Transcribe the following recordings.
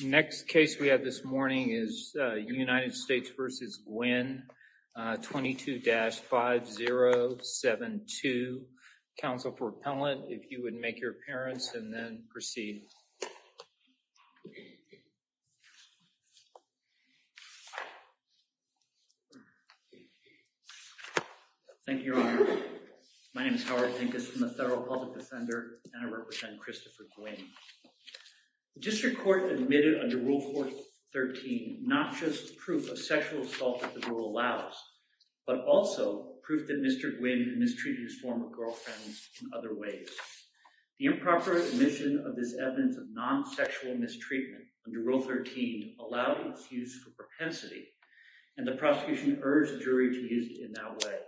22-5072. Counsel for appellant, if you would make your appearance and then proceed. Thank you, Your Honor. My name is Howard Hinkes. I'm a federal public defender and I represent Christopher Guinn. The district court admitted under Rule 413 not just proof of sexual assault that the rule allows, but also proof that Mr. Guinn mistreated his former girlfriend in other ways. The improper admission of this evidence of non-sexual mistreatment under Rule 13 allowed its use for propensity and the prosecution urged the jury to use it in that way.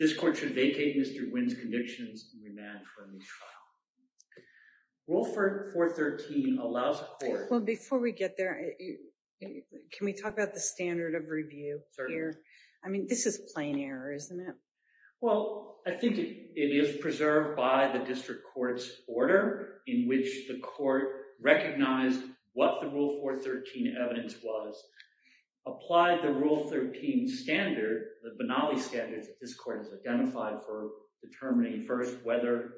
This court should vacate Mr. Guinn's convictions and remand for a new trial. Rule 413 allows a court... Well, before we get there, can we talk about the standard of review? Certainly. I mean, this is plain error, isn't it? Well, I think it is preserved by the district court's order in which the court recognized what the Rule 413 evidence was, applied the Denali standards that this court has identified for determining first whether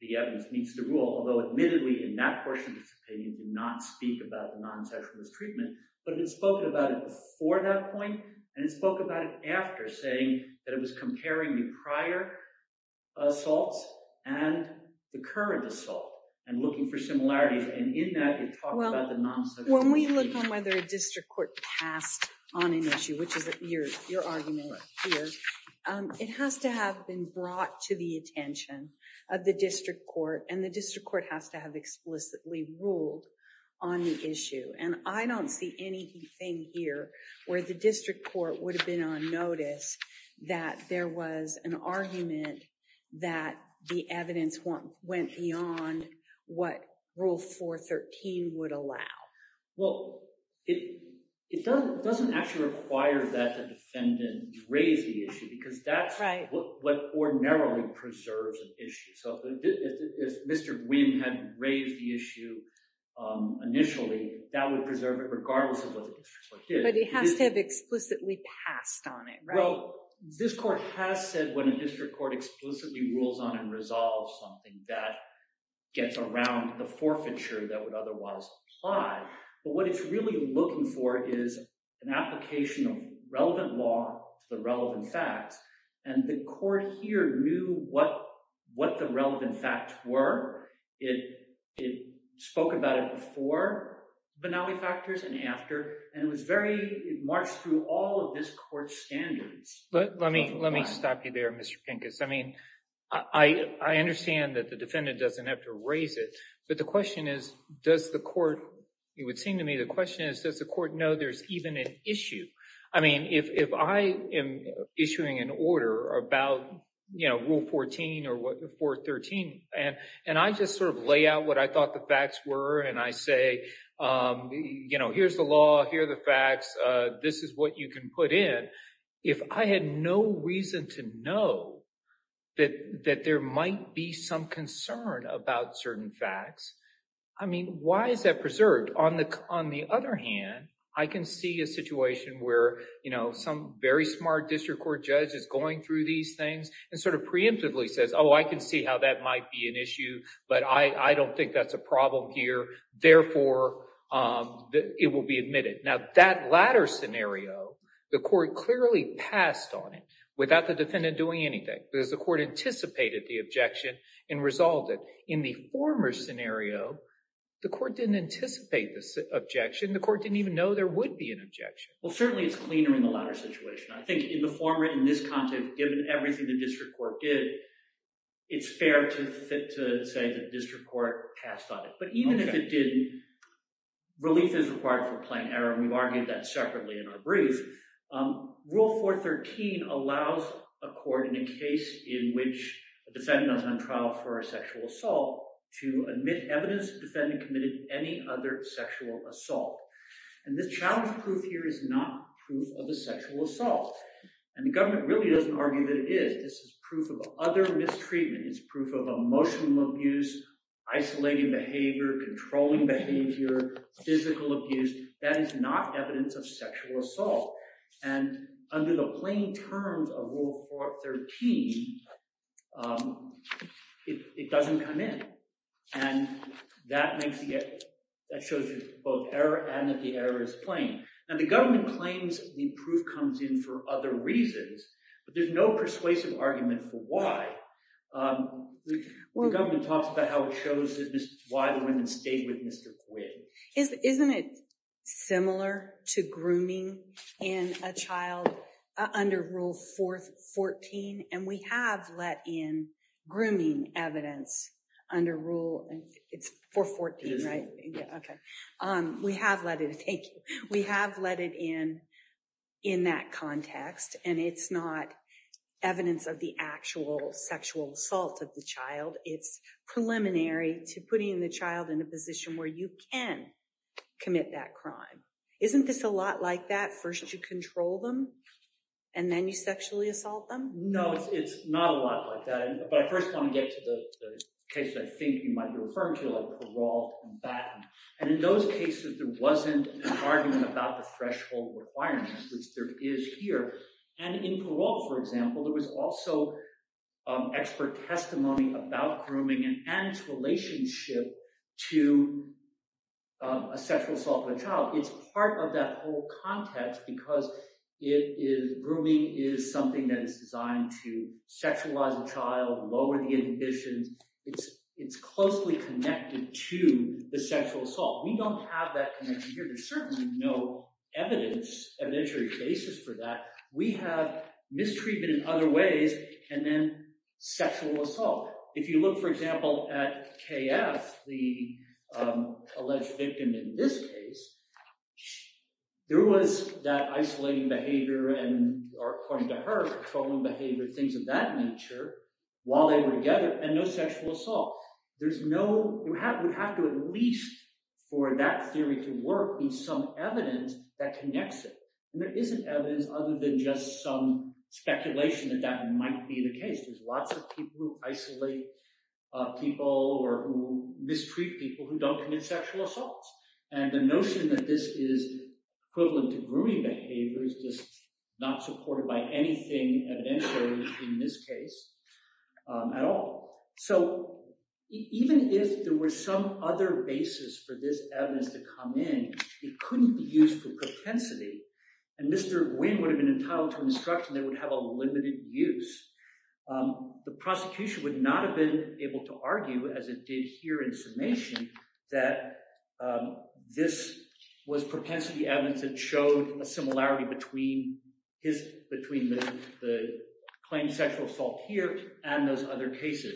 the evidence meets the rule, although admittedly in that portion of the opinion did not speak about the non-sexual mistreatment, but it spoke about it before that point and it spoke about it after, saying that it was comparing the prior assaults and the current assault and looking for similarities, and in that it talked about the non-sexual mistreatment. When we look on whether a district court passed on an issue, which is your argument here, it has to have been brought to the attention of the district court and the district court has to have explicitly ruled on the issue, and I don't see anything here where the district court would have been on notice that there was an argument that the evidence went beyond what Rule 413 would allow. Well, it doesn't actually require that the defendant raise the issue because that's what ordinarily preserves an issue. So if Mr. Gwynne had raised the issue initially, that would preserve it regardless of what the district court did. But it has to have explicitly passed on it, right? So this court has said when a district court explicitly rules on and resolves something, that gets around the forfeiture that would otherwise apply, but what it's really looking for is an application of relevant law to the relevant facts, and the court here knew what the relevant facts were. It spoke about it before finale factors and after, and it was very, it marched through all of this court's standards. Let me stop you there, Mr. Pincus. I mean, I understand that the defendant doesn't have to raise it, but the question is, does the court, it would seem to me the question is does the court know there's even an issue? I mean, if I am issuing an order about Rule 14 or 413, and I just sort of lay out what I thought the facts were and I say, you know, here's the law, here are the facts, this is what you can put in, if I had no reason to know that there might be some concern about certain facts, I mean, why is that preserved? On the other hand, I can see a situation where, you know, some very smart district court judge is going through these things and sort of preemptively says, oh, I can see how that will be admitted. Now, that latter scenario, the court clearly passed on it without the defendant doing anything because the court anticipated the objection and resolved it. In the former scenario, the court didn't anticipate this objection. The court didn't even know there would be an objection. Well, certainly it's cleaner in the latter situation. I think in the former, in this context, given everything the district court did, it's fair to say that the district court passed on it. But even if it didn't, relief is required for plain error, and we've argued that separately in our brief. Rule 413 allows a court in a case in which a defendant is on trial for a sexual assault to admit evidence the defendant committed any other sexual assault. And this challenge proof here is not proof of a sexual assault. And the government really doesn't argue that it is. This is proof of other mistreatment. It's proof of emotional abuse, isolating behavior, controlling behavior, physical abuse. That is not evidence of sexual assault. And under the plain terms of Rule 413, it doesn't come in. And that makes it that shows you both error and that the error is plain. And the government claims the proof comes in for other reasons, but there's no persuasive argument for why. The government talks about how it shows why the woman stayed with Mr. Quinn. Isn't it similar to grooming in a child under Rule 414? And we have let in grooming evidence under Rule 414, right? It is. And we have let it in in that context. And it's not evidence of the actual sexual assault of the child. It's preliminary to putting the child in a position where you can commit that crime. Isn't this a lot like that? First you control them, and then you sexually assault them? No, it's not a lot like that. But I first want to get to the case I think you might have referred to, like Parole and Batten. And in those cases, there wasn't an argument about the threshold requirements, which there is here. And in Parole, for example, there was also expert testimony about grooming and its relationship to a sexual assault of a child. It's part of that whole context because grooming is something that is designed to be connected to the sexual assault. We don't have that connection here. There's certainly no evidence, evidentiary basis for that. We have mistreatment in other ways and then sexual assault. If you look, for example, at K.F., the alleged victim in this case, there was that isolating behavior and, according to her, patrolling behavior, things of that nature, while they were together, and no sexual assault. We have to at least, for that theory to work, be some evidence that connects it. And there isn't evidence other than just some speculation that that might be the case. There's lots of people who isolate people or who mistreat people who don't commit sexual assaults. And the notion that this is equivalent to grooming behavior is just not supported by anything evidentiary in this case at all. So even if there were some other basis for this evidence to come in, it couldn't be used for propensity. And Mr. Nguyen would have been entitled to instruction that it would have a limited use. The prosecution would not have been able to argue, as it did here in summation, that this was propensity evidence that showed a similarity between the claimed sexual assault here and those other cases.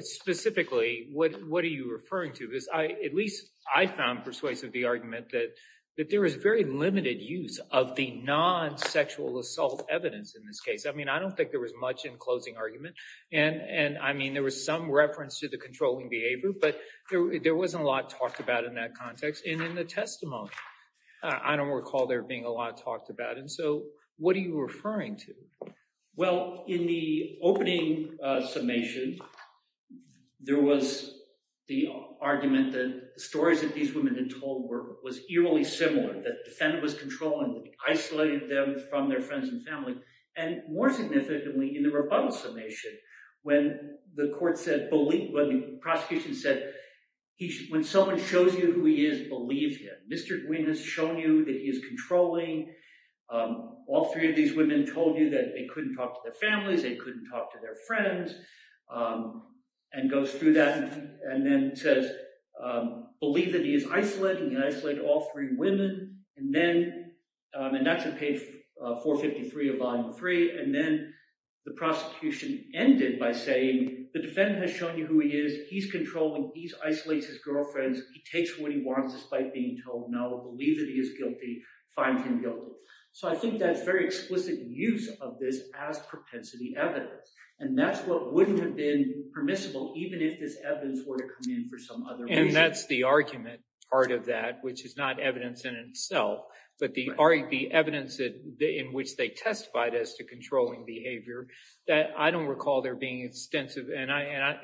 Specifically, what are you referring to? At least I found persuasive the argument that there is very limited use of the non-sexual assault evidence in this case. I mean, I don't think there was much in closing argument. And, I mean, there was some reference to the controlling behavior, but there wasn't a lot talked about in that context. And in the testimony, I don't recall there being a lot talked about. And so what are you referring to? Well, in the opening summation, there was the argument that the stories that these women had told were eerily similar, that the defendant was controlling them, isolated them from their friends and family. And more significantly, in the rebuttal summation, when the court said, when the prosecution said, when someone shows you who he is, believe him. Mr. Guinn has shown you that he is controlling. All three of these women told you that they couldn't talk to their families, they couldn't talk to their friends, and goes through that. And then says, believe that he is isolating. He isolated all three women. And then, and that's on page 453 of Volume 3. And then the prosecution ended by saying, the defendant has shown you who he is, he's controlling, he isolates his girlfriends, he takes what he wants despite being told no, believe that he is guilty, find him guilty. So I think that's very explicit use of this as propensity evidence. And that's what wouldn't have been permissible, even if this evidence were to come in for some other reason. And that's the argument part of that, which is not evidence in itself, but the evidence in which they testified as to controlling behavior, that I don't recall there being extensive, and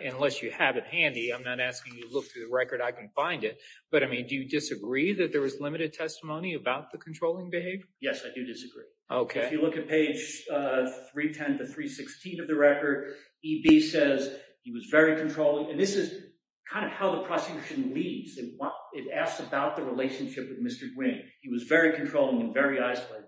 unless you have it handy, I'm not asking you to look through the record, I can find it. But I mean, do you disagree that there was limited testimony about the controlling behavior? Yes, I do disagree. Okay. If you look at page 310 to 316 of the record, EB says, he was very controlling. And this is kind of how the prosecution leaves. It asks about the relationship with Mr. Gwin. He was very controlling and very isolating.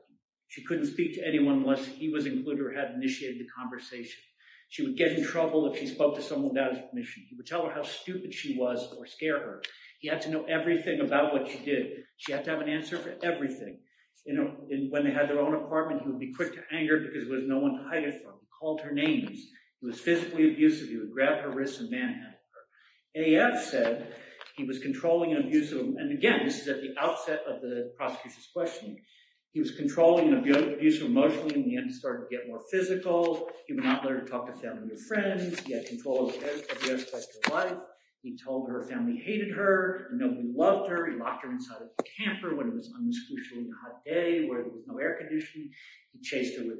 She couldn't speak to anyone unless he was included or had initiated the conversation. She would get in trouble if she spoke to someone without his permission. He would tell her how stupid she was or scare her. He had to know everything about what she did. She had to have an answer for everything. And when they had their own apartment, he would be quick to anger because there was no one to risk and manhandle her. AF said he was controlling and abusive. And again, this is at the outset of the prosecution's questioning. He was controlling and abusive emotionally. In the end, he started to get more physical. He would not let her talk to family or friends. He had control of the aspect of life. He told her family hated her. Nobody loved her. He locked her inside of the camper when it was unusually hot day where there was no air conditioning. He chased her with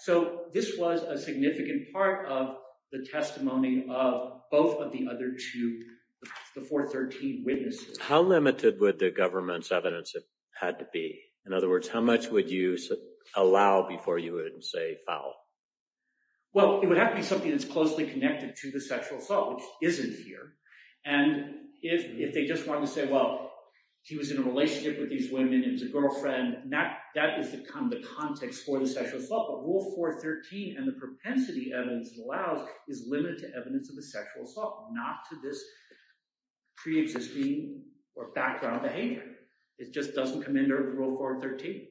So this was a significant part of the testimony of both of the other two, the 413 witnesses. How limited would the government's evidence had to be? In other words, how much would you allow before you would say foul? Well, it would have to be something that's closely connected to the sexual assault, which isn't here. And if they just want to say, well, he was in a relationship with these And the propensity evidence allows is limited to evidence of a sexual assault, not to this pre-existing or background behavior. It just doesn't come under Rule 413.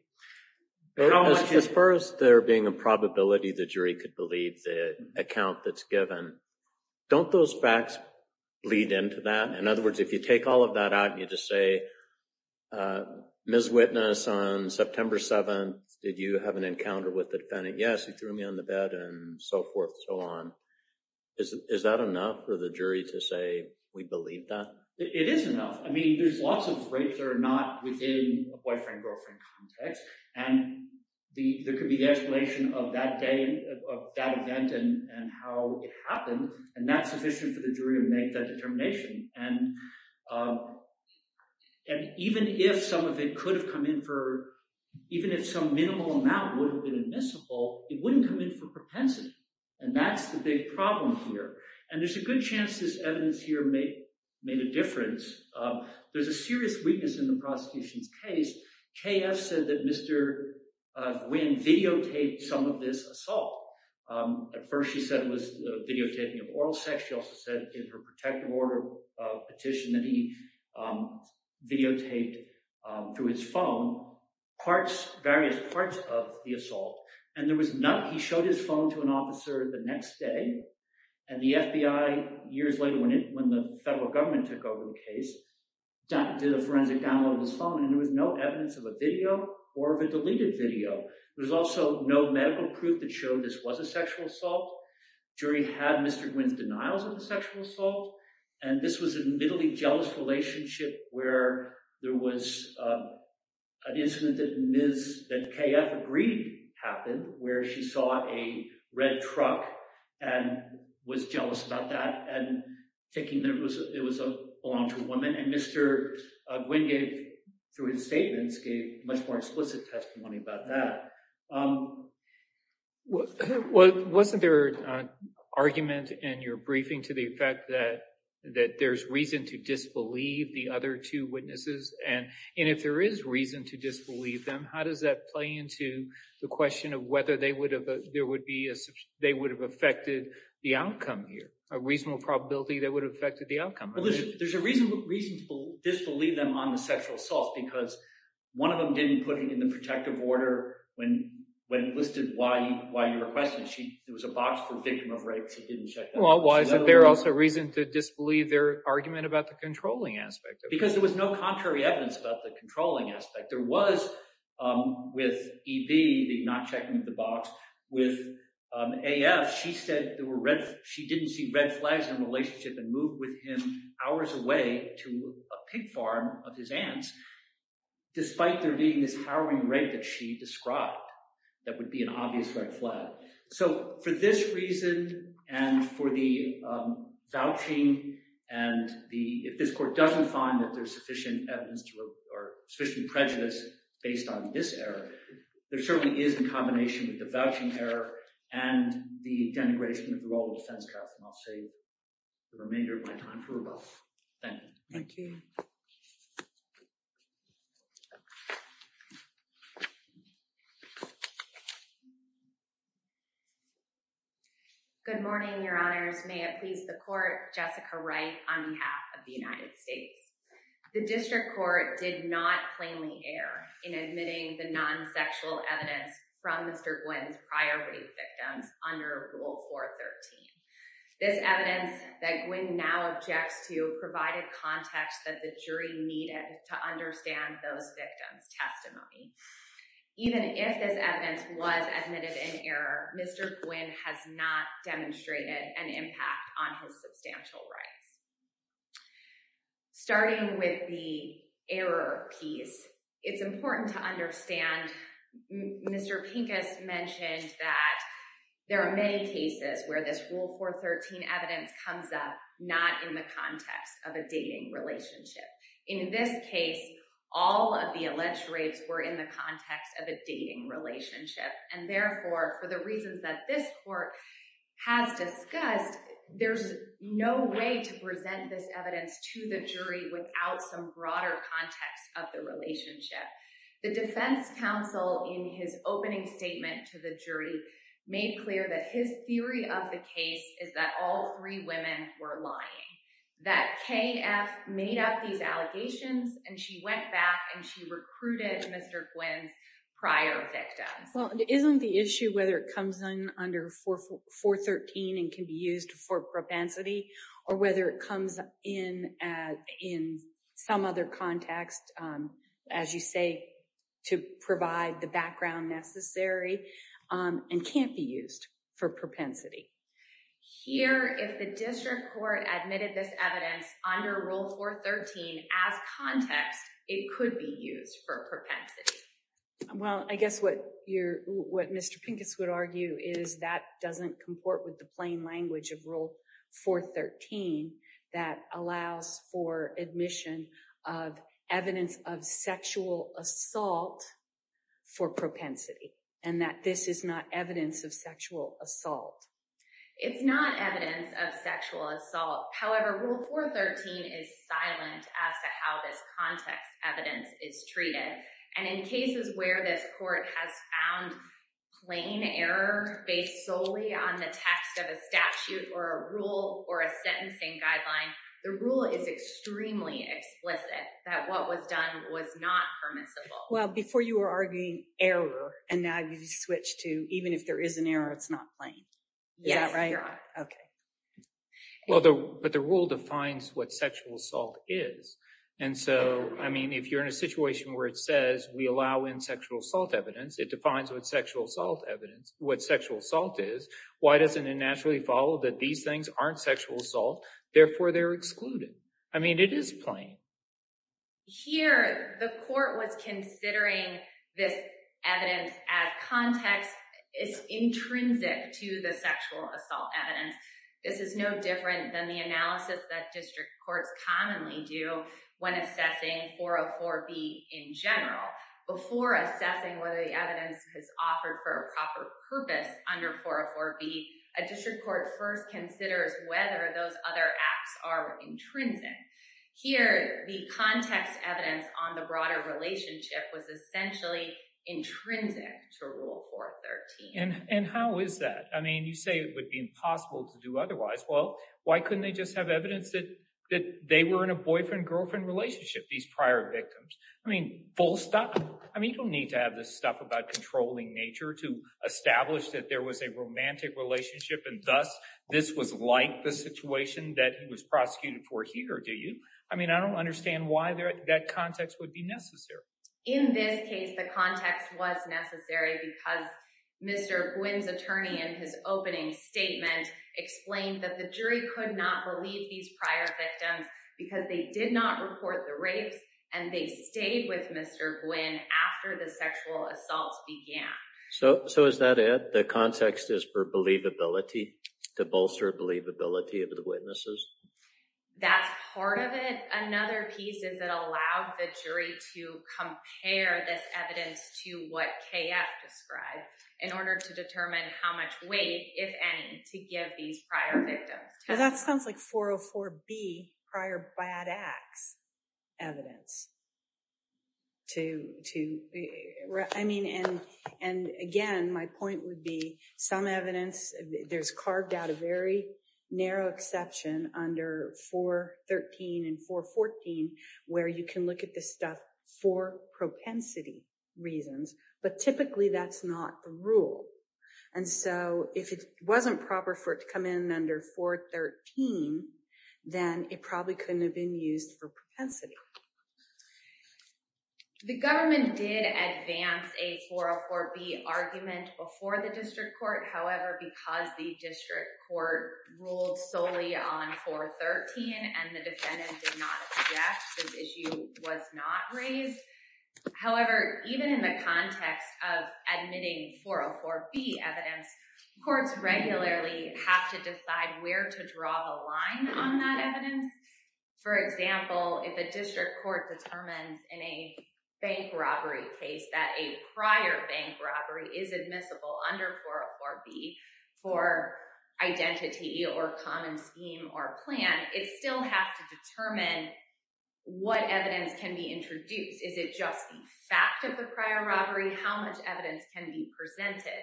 As far as there being a probability the jury could believe the account that's given, don't those facts lead into that? In other words, if you take all of that out and you just say, Ms. Witness, on September 7th, did you have an encounter with the defendant? Yes, he threw me on the bed and so forth and so on. Is that enough for the jury to say we believe that? It is enough. I mean, there's lots of rapes that are not within a boyfriend-girlfriend context. And there could be the explanation of that day, of that event and how it happened. And that's sufficient for the jury to make that determination. And even if some of it could have come in for, even if some minimal amount would have been admissible, it wouldn't come in for propensity. And that's the big problem here. And there's a good chance this evidence here made a difference. There's a serious weakness in the prosecution's case. K.F. said that Mr. Nguyen videotaped some of this assault. At first she said it was videotaping of oral sex. She also said in her protective order petition that he videotaped through his phone parts, various parts of the assault. And there was none. He showed his phone to an officer the next day. And the FBI, years later when the federal government took over the case, did a forensic download of his phone. And there was no evidence of a video or of a deleted video. There was also no medical proof that showed this was a sexual assault. The jury had Mr. Nguyen's denials of the sexual assault. And this was admittedly a jealous relationship where there was an incident that K.F. agreed happened, where she saw a red truck and was jealous about that and thinking it belonged to a woman. And Mr. Nguyen gave, through his statements, gave much more explicit testimony about that. Wasn't there an argument in your briefing to the effect that there's reason to disbelieve the other two witnesses? And if there is reason to disbelieve them, how does that play into the question of whether they would have affected the outcome here, a reasonable probability they would have affected the outcome? There's a reason to disbelieve them on the sexual assault because one of them didn't put it in the protective order when listed why you requested it. There was a box for the victim of rape. She didn't check that. Well, why is it there also reason to disbelieve their argument about the controlling aspect? Because there was no contrary evidence about the controlling aspect. There was with E.V. not checking the box. With A.F., she said she didn't see red flags in the relationship and moved with him hours away to a pig farm of his aunt's, despite there being this harrowing rape that she described that would be an obvious red flag. So for this reason and for the vouching and if this court doesn't find that there's sufficient evidence or sufficient prejudice based on this error, there certainly is in combination with the vouching error and the denigration of the role of the defense counsel. And I'll save the remainder of my time for rebuttal. Thank you. Thank you. Good morning, your honors. May it please the court, Jessica Wright on behalf of the United States. The district court did not plainly err in admitting the non-sexual evidence from Mr. Gwynn's priority victims under Rule 413. This evidence that Gwynn now objects to provided context that the jury needed to understand those victims' testimony. Even if this evidence was admitted in error, Mr. Gwynn has not demonstrated an impact on his substantial rights. Starting with the error piece, it's important to understand Mr. Pincus mentioned that there are many cases where this Rule 413 evidence comes up not in the context of a dating relationship. In this case, all of the alleged rapes were in the context of a dating relationship. And therefore, for the reasons that this court has discussed, there's no way to present this evidence to the jury without some broader context of the relationship. The defense counsel in his opening statement to the jury made clear that his theory of the case is that all three women were lying. That K.F. made up these allegations and she went back and she recruited Mr. Gwynn's prior victims. Well, isn't the issue whether it comes in under 413 and can be used for propensity or whether it comes in some other context, as you say, to provide the background necessary and can't be used for propensity? Here, if the district court admitted this evidence under Rule 413 as context, it could be used for propensity. Well, I guess what Mr. Pincus would argue is that doesn't comport with the plain language of Rule 413 that allows for admission of evidence of sexual assault for propensity and that this is not evidence of sexual assault. It's not evidence of sexual assault. However, Rule 413 is silent as to how this context evidence is treated. And in cases where this court has found plain error based solely on the text of a statute or a rule or a sentencing guideline, the rule is extremely explicit that what was done was not permissible. Well, before you were arguing error and now you've switched to even if there is an error, it's not plain. Is that right? Yes, you're right. Okay. Well, but the rule defines what sexual assault is. And so, I mean, if you're in a situation where it says we allow in sexual assault evidence, it defines what sexual assault is. Why doesn't it naturally follow that these things aren't sexual assault? Therefore, they're excluded. I mean, it is plain. Here, the court was considering this evidence as context. It's intrinsic to the sexual assault evidence. This is no different than the analysis that district courts commonly do when assessing 404B in general. Before assessing whether the evidence is offered for a proper purpose under 404B, a district court first considers whether those other acts are intrinsic. Here, the context evidence on the broader relationship was essentially intrinsic to Rule 413. And how is that? I mean, you say it would be impossible to do otherwise. Well, why couldn't they just have evidence that they were in a boyfriend-girlfriend relationship, these prior victims? I mean, full stop. I mean, you don't need to have this stuff about controlling nature to establish that there was a romantic relationship and thus this was like the situation that he was prosecuted for here, do you? I mean, I don't understand why that context would be necessary. In this case, the context was necessary because Mr. Gwynne's attorney in his opening statement explained that the jury could not believe these prior victims because they did not report the rapes and they stayed with Mr. Gwynne after the sexual assaults began. So is that it? The context is for believability, to bolster believability of the witnesses? That's part of it. Another piece is it allowed the jury to compare this evidence to what KF described in order to determine how much weight, if any, to give these prior victims. That sounds like 404B prior bad acts evidence. I mean, and again, my point would be some evidence, there's carved out a very narrow exception under 413 and 414 where you can look at this stuff for propensity reasons, but typically that's not the rule. And so if it wasn't proper for it to come in under 413, then it probably couldn't have been used for propensity. The government did advance a 404B argument before the district court. However, because the district court ruled solely on 413 and the defendant did not object, this issue was not raised. However, even in the context of admitting 404B evidence, courts regularly have to decide where to draw the line on that evidence. For example, if a district court determines in a bank robbery case that a prior bank robbery is admissible under 404B for identity or common scheme or plan, it still has to determine what evidence can be introduced. Is it just the fact of the prior robbery? How much evidence can be presented?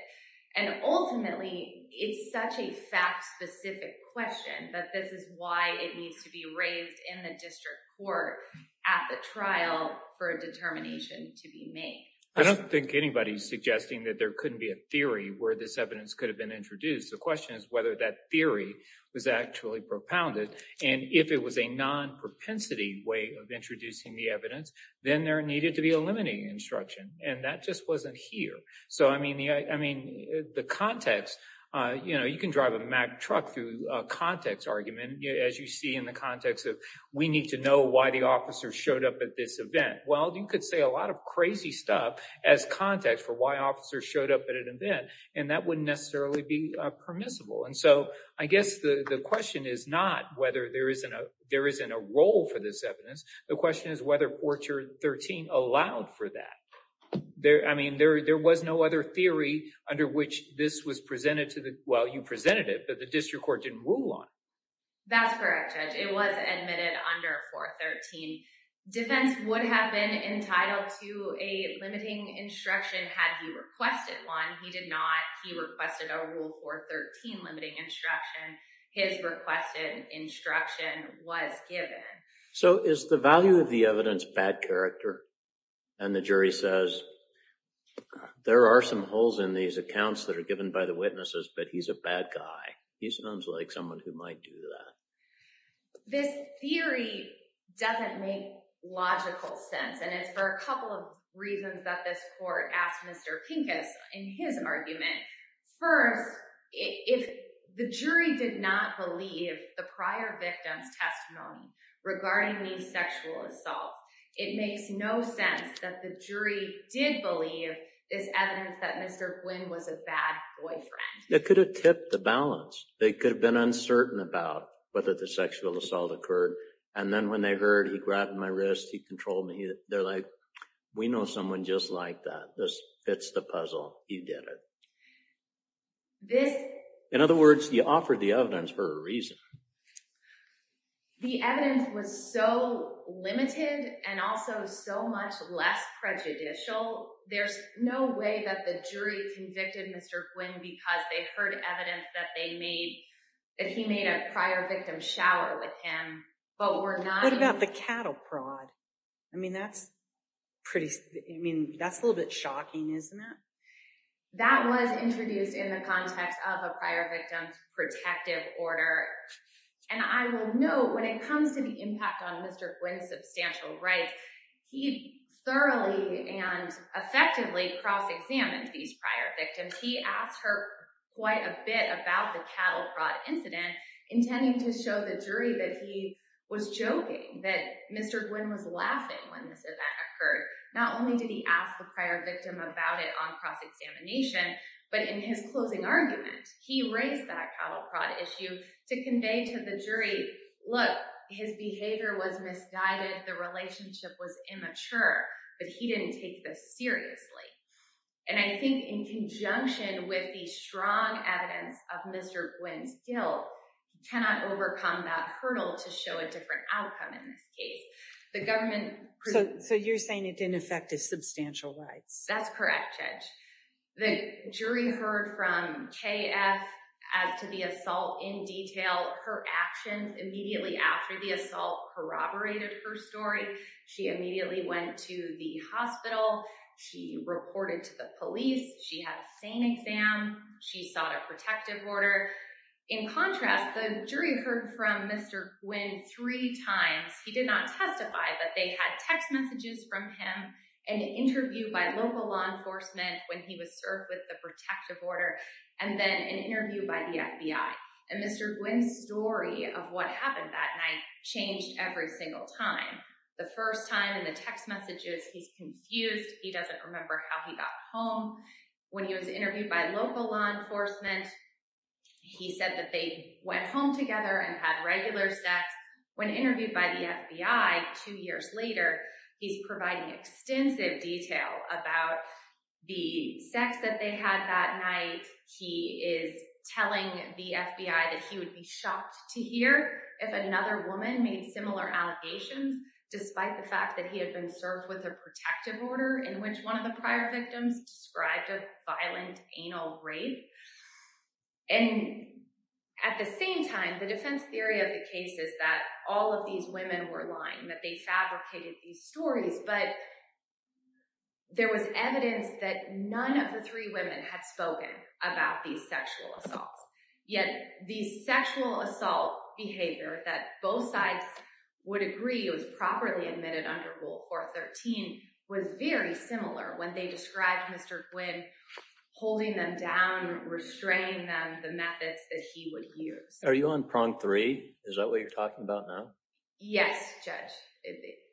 And ultimately, it's such a fact specific question, but this is why it needs to be raised in the district court at the trial for a determination to be made. I don't think anybody's suggesting that there couldn't be a theory where this evidence could have been introduced. The question is whether that theory was actually propounded. And if it was a non-propensity way of introducing the evidence, then there needed to be a limiting instruction. And that just wasn't here. So, I mean, the context, you know, you can drive a Mack truck through a context argument, as you see in the context of we need to know why the officer showed up at this event. Well, you could say a lot of crazy stuff as context for why officers showed up at an event, and that wouldn't necessarily be permissible. And so, I guess the question is not whether there isn't a role for this evidence. The question is whether 413 allowed for that. I mean, there was no other theory under which this was presented to the, well, you presented it, but the district court didn't rule on it. That's correct, Judge. It was admitted under 413. Defense would have been entitled to a limiting instruction had he requested one. He did not. He requested a Rule 413 limiting instruction. His requested instruction was given. So, is the value of the evidence bad character? And the jury says, there are some holes in these accounts that are given by the witnesses, but he's a bad guy. He sounds like someone who might do that. This theory doesn't make logical sense, and it's for a couple of reasons that this court asked Mr. Pincus in his argument. First, if the jury did not believe the prior victim's testimony regarding the sexual assault, it makes no sense that the jury did believe this evidence that Mr. Quinn was a bad boyfriend. It could have tipped the balance. They could have been uncertain about whether the sexual assault occurred, and then when they heard he grabbed my wrist, he controlled me, they're like, we know someone just like that. This fits the puzzle. You did it. In other words, you offered the evidence for a reason. The re's no way that the jury convicted Mr. Quinn because they heard evidence that he made a prior victim shower with him. What about the cattle prod? I mean, that's a little bit shocking, isn't it? That was introduced in the context of a prior victim protective order. And I will note, when it comes to the impact on Mr. Quinn's substantial rights, he thoroughly and effectively cross-examined these prior victims. He asked her quite a bit about the cattle prod incident, intending to show the jury that he was joking, that Mr. Quinn was laughing when this event occurred. Not only did he ask the prior victim about it on cross-examination, but in his closing argument, he raised that cattle prod issue to convey to the jury, look, his behavior was misguided, the relationship was immature, but he didn't take this seriously. And I think in conjunction with the strong evidence of Mr. Quinn's guilt, cannot overcome that hurdle to show a different outcome in this case. So you're saying it didn't affect his substantial rights? That's correct, Judge. The jury heard from K.F. as to the assault in detail. Her actions immediately after the assault corroborated her story. She immediately went to the hospital. She reported to the police. She had a SANE exam. She sought a protective order. In contrast, the jury heard from Mr. Quinn three times. He did not testify, but they had text messages from him, an interview by local law enforcement when he was served with the protective order, and then an interview by the FBI. And Mr. Quinn's story of what happened that night changed every single time. The first time in the text messages, he's confused. He doesn't remember how he got home. When he was interviewed by local law enforcement, he said that they went home together and had regular sex. When interviewed by the FBI two years later, he's providing extensive details about the sex that they had that night. He is telling the FBI that he would be shocked to hear if another woman made similar allegations, despite the fact that he had been served with a protective order in which one of the prior victims described a violent anal rape. And at the same time, the defense theory of the case is that all of these women were lying, that they fabricated these stories, but there was evidence that none of the three women had spoken about these sexual assaults. Yet the sexual assault behavior that both sides would agree was properly admitted under Rule 413 was very similar when they described Mr. Quinn holding them down, restraining them, the methods that he would use. Are you on prong three? Is that what you're talking about now? Yes, Judge.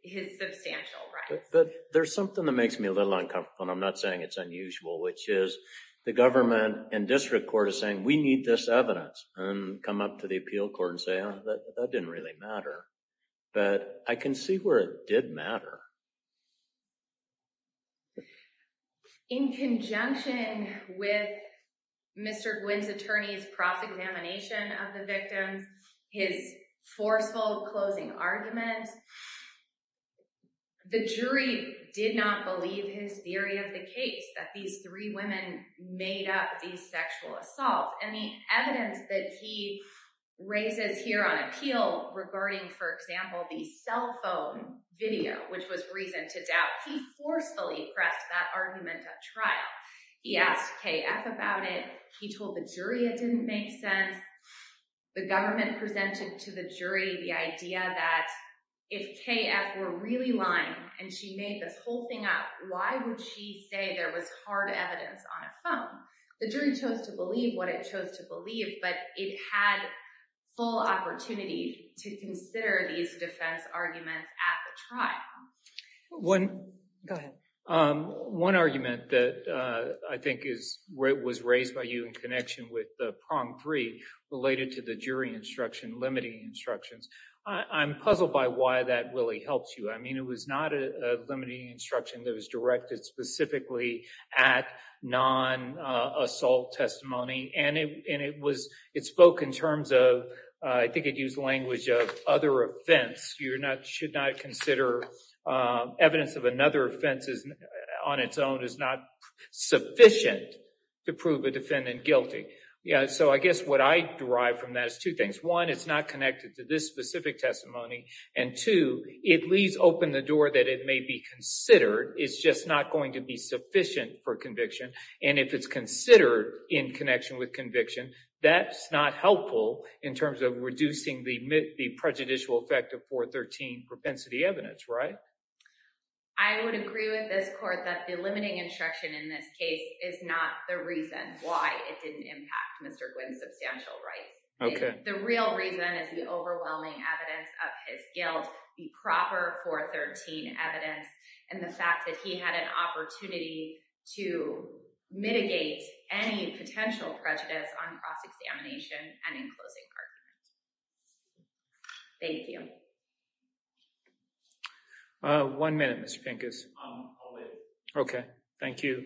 His substantial rights. But there's something that makes me a little uncomfortable, and I'm not saying it's unusual, which is the government and district court is saying, we need this evidence, and come up to the appeal court and say, oh, that didn't really matter. But I can see where it did matter. In conjunction with Mr. Quinn's attorney's cross-examination of the victim, his forceful closing argument, the jury did not believe his theory of the case that these three women made up these sexual assaults. And the evidence that he raises here on appeal regarding, for example, the cell phone video, which was reason to doubt, he forcefully pressed that argument at trial. He asked KF about it. He told the jury it didn't make sense. The government presented to the jury the idea that if KF were really lying and she made this whole thing up, why would she say there was hard evidence on a phone? The jury chose to believe what it chose to believe, but it had full opportunity to consider these defense arguments at the trial. Go ahead. One argument that I think was raised by you in connection with the Prom 3 related to the jury instruction, limiting instructions. I'm puzzled by why that really helps you. I mean, it was not a limiting instruction that was directed specifically at non-assault testimony, and it spoke in terms of, I think it used language of, other offense. You should not consider evidence of another offense on its own is not sufficient to prove a defendant guilty. So I guess what I derive from that is two things. One, it's not connected to this specific testimony, and two, it leaves open the door that it may be considered. It's just not going to be sufficient for conviction, and if it's considered in connection with conviction, that's not helpful in terms of reducing the prejudicial effect of 413 propensity evidence, right? I would agree with this court that the limiting instruction in this case is not the reason why it didn't impact Mr. Gwynn's substantial rights. The real reason is the overwhelming evidence of his guilt, the proper 413 evidence, and the fact that he had an opportunity to mitigate any potential prejudice on cross-examination and in closing arguments. Thank you. One minute, Mr. Pincus. I'll wait. Okay. Thank you.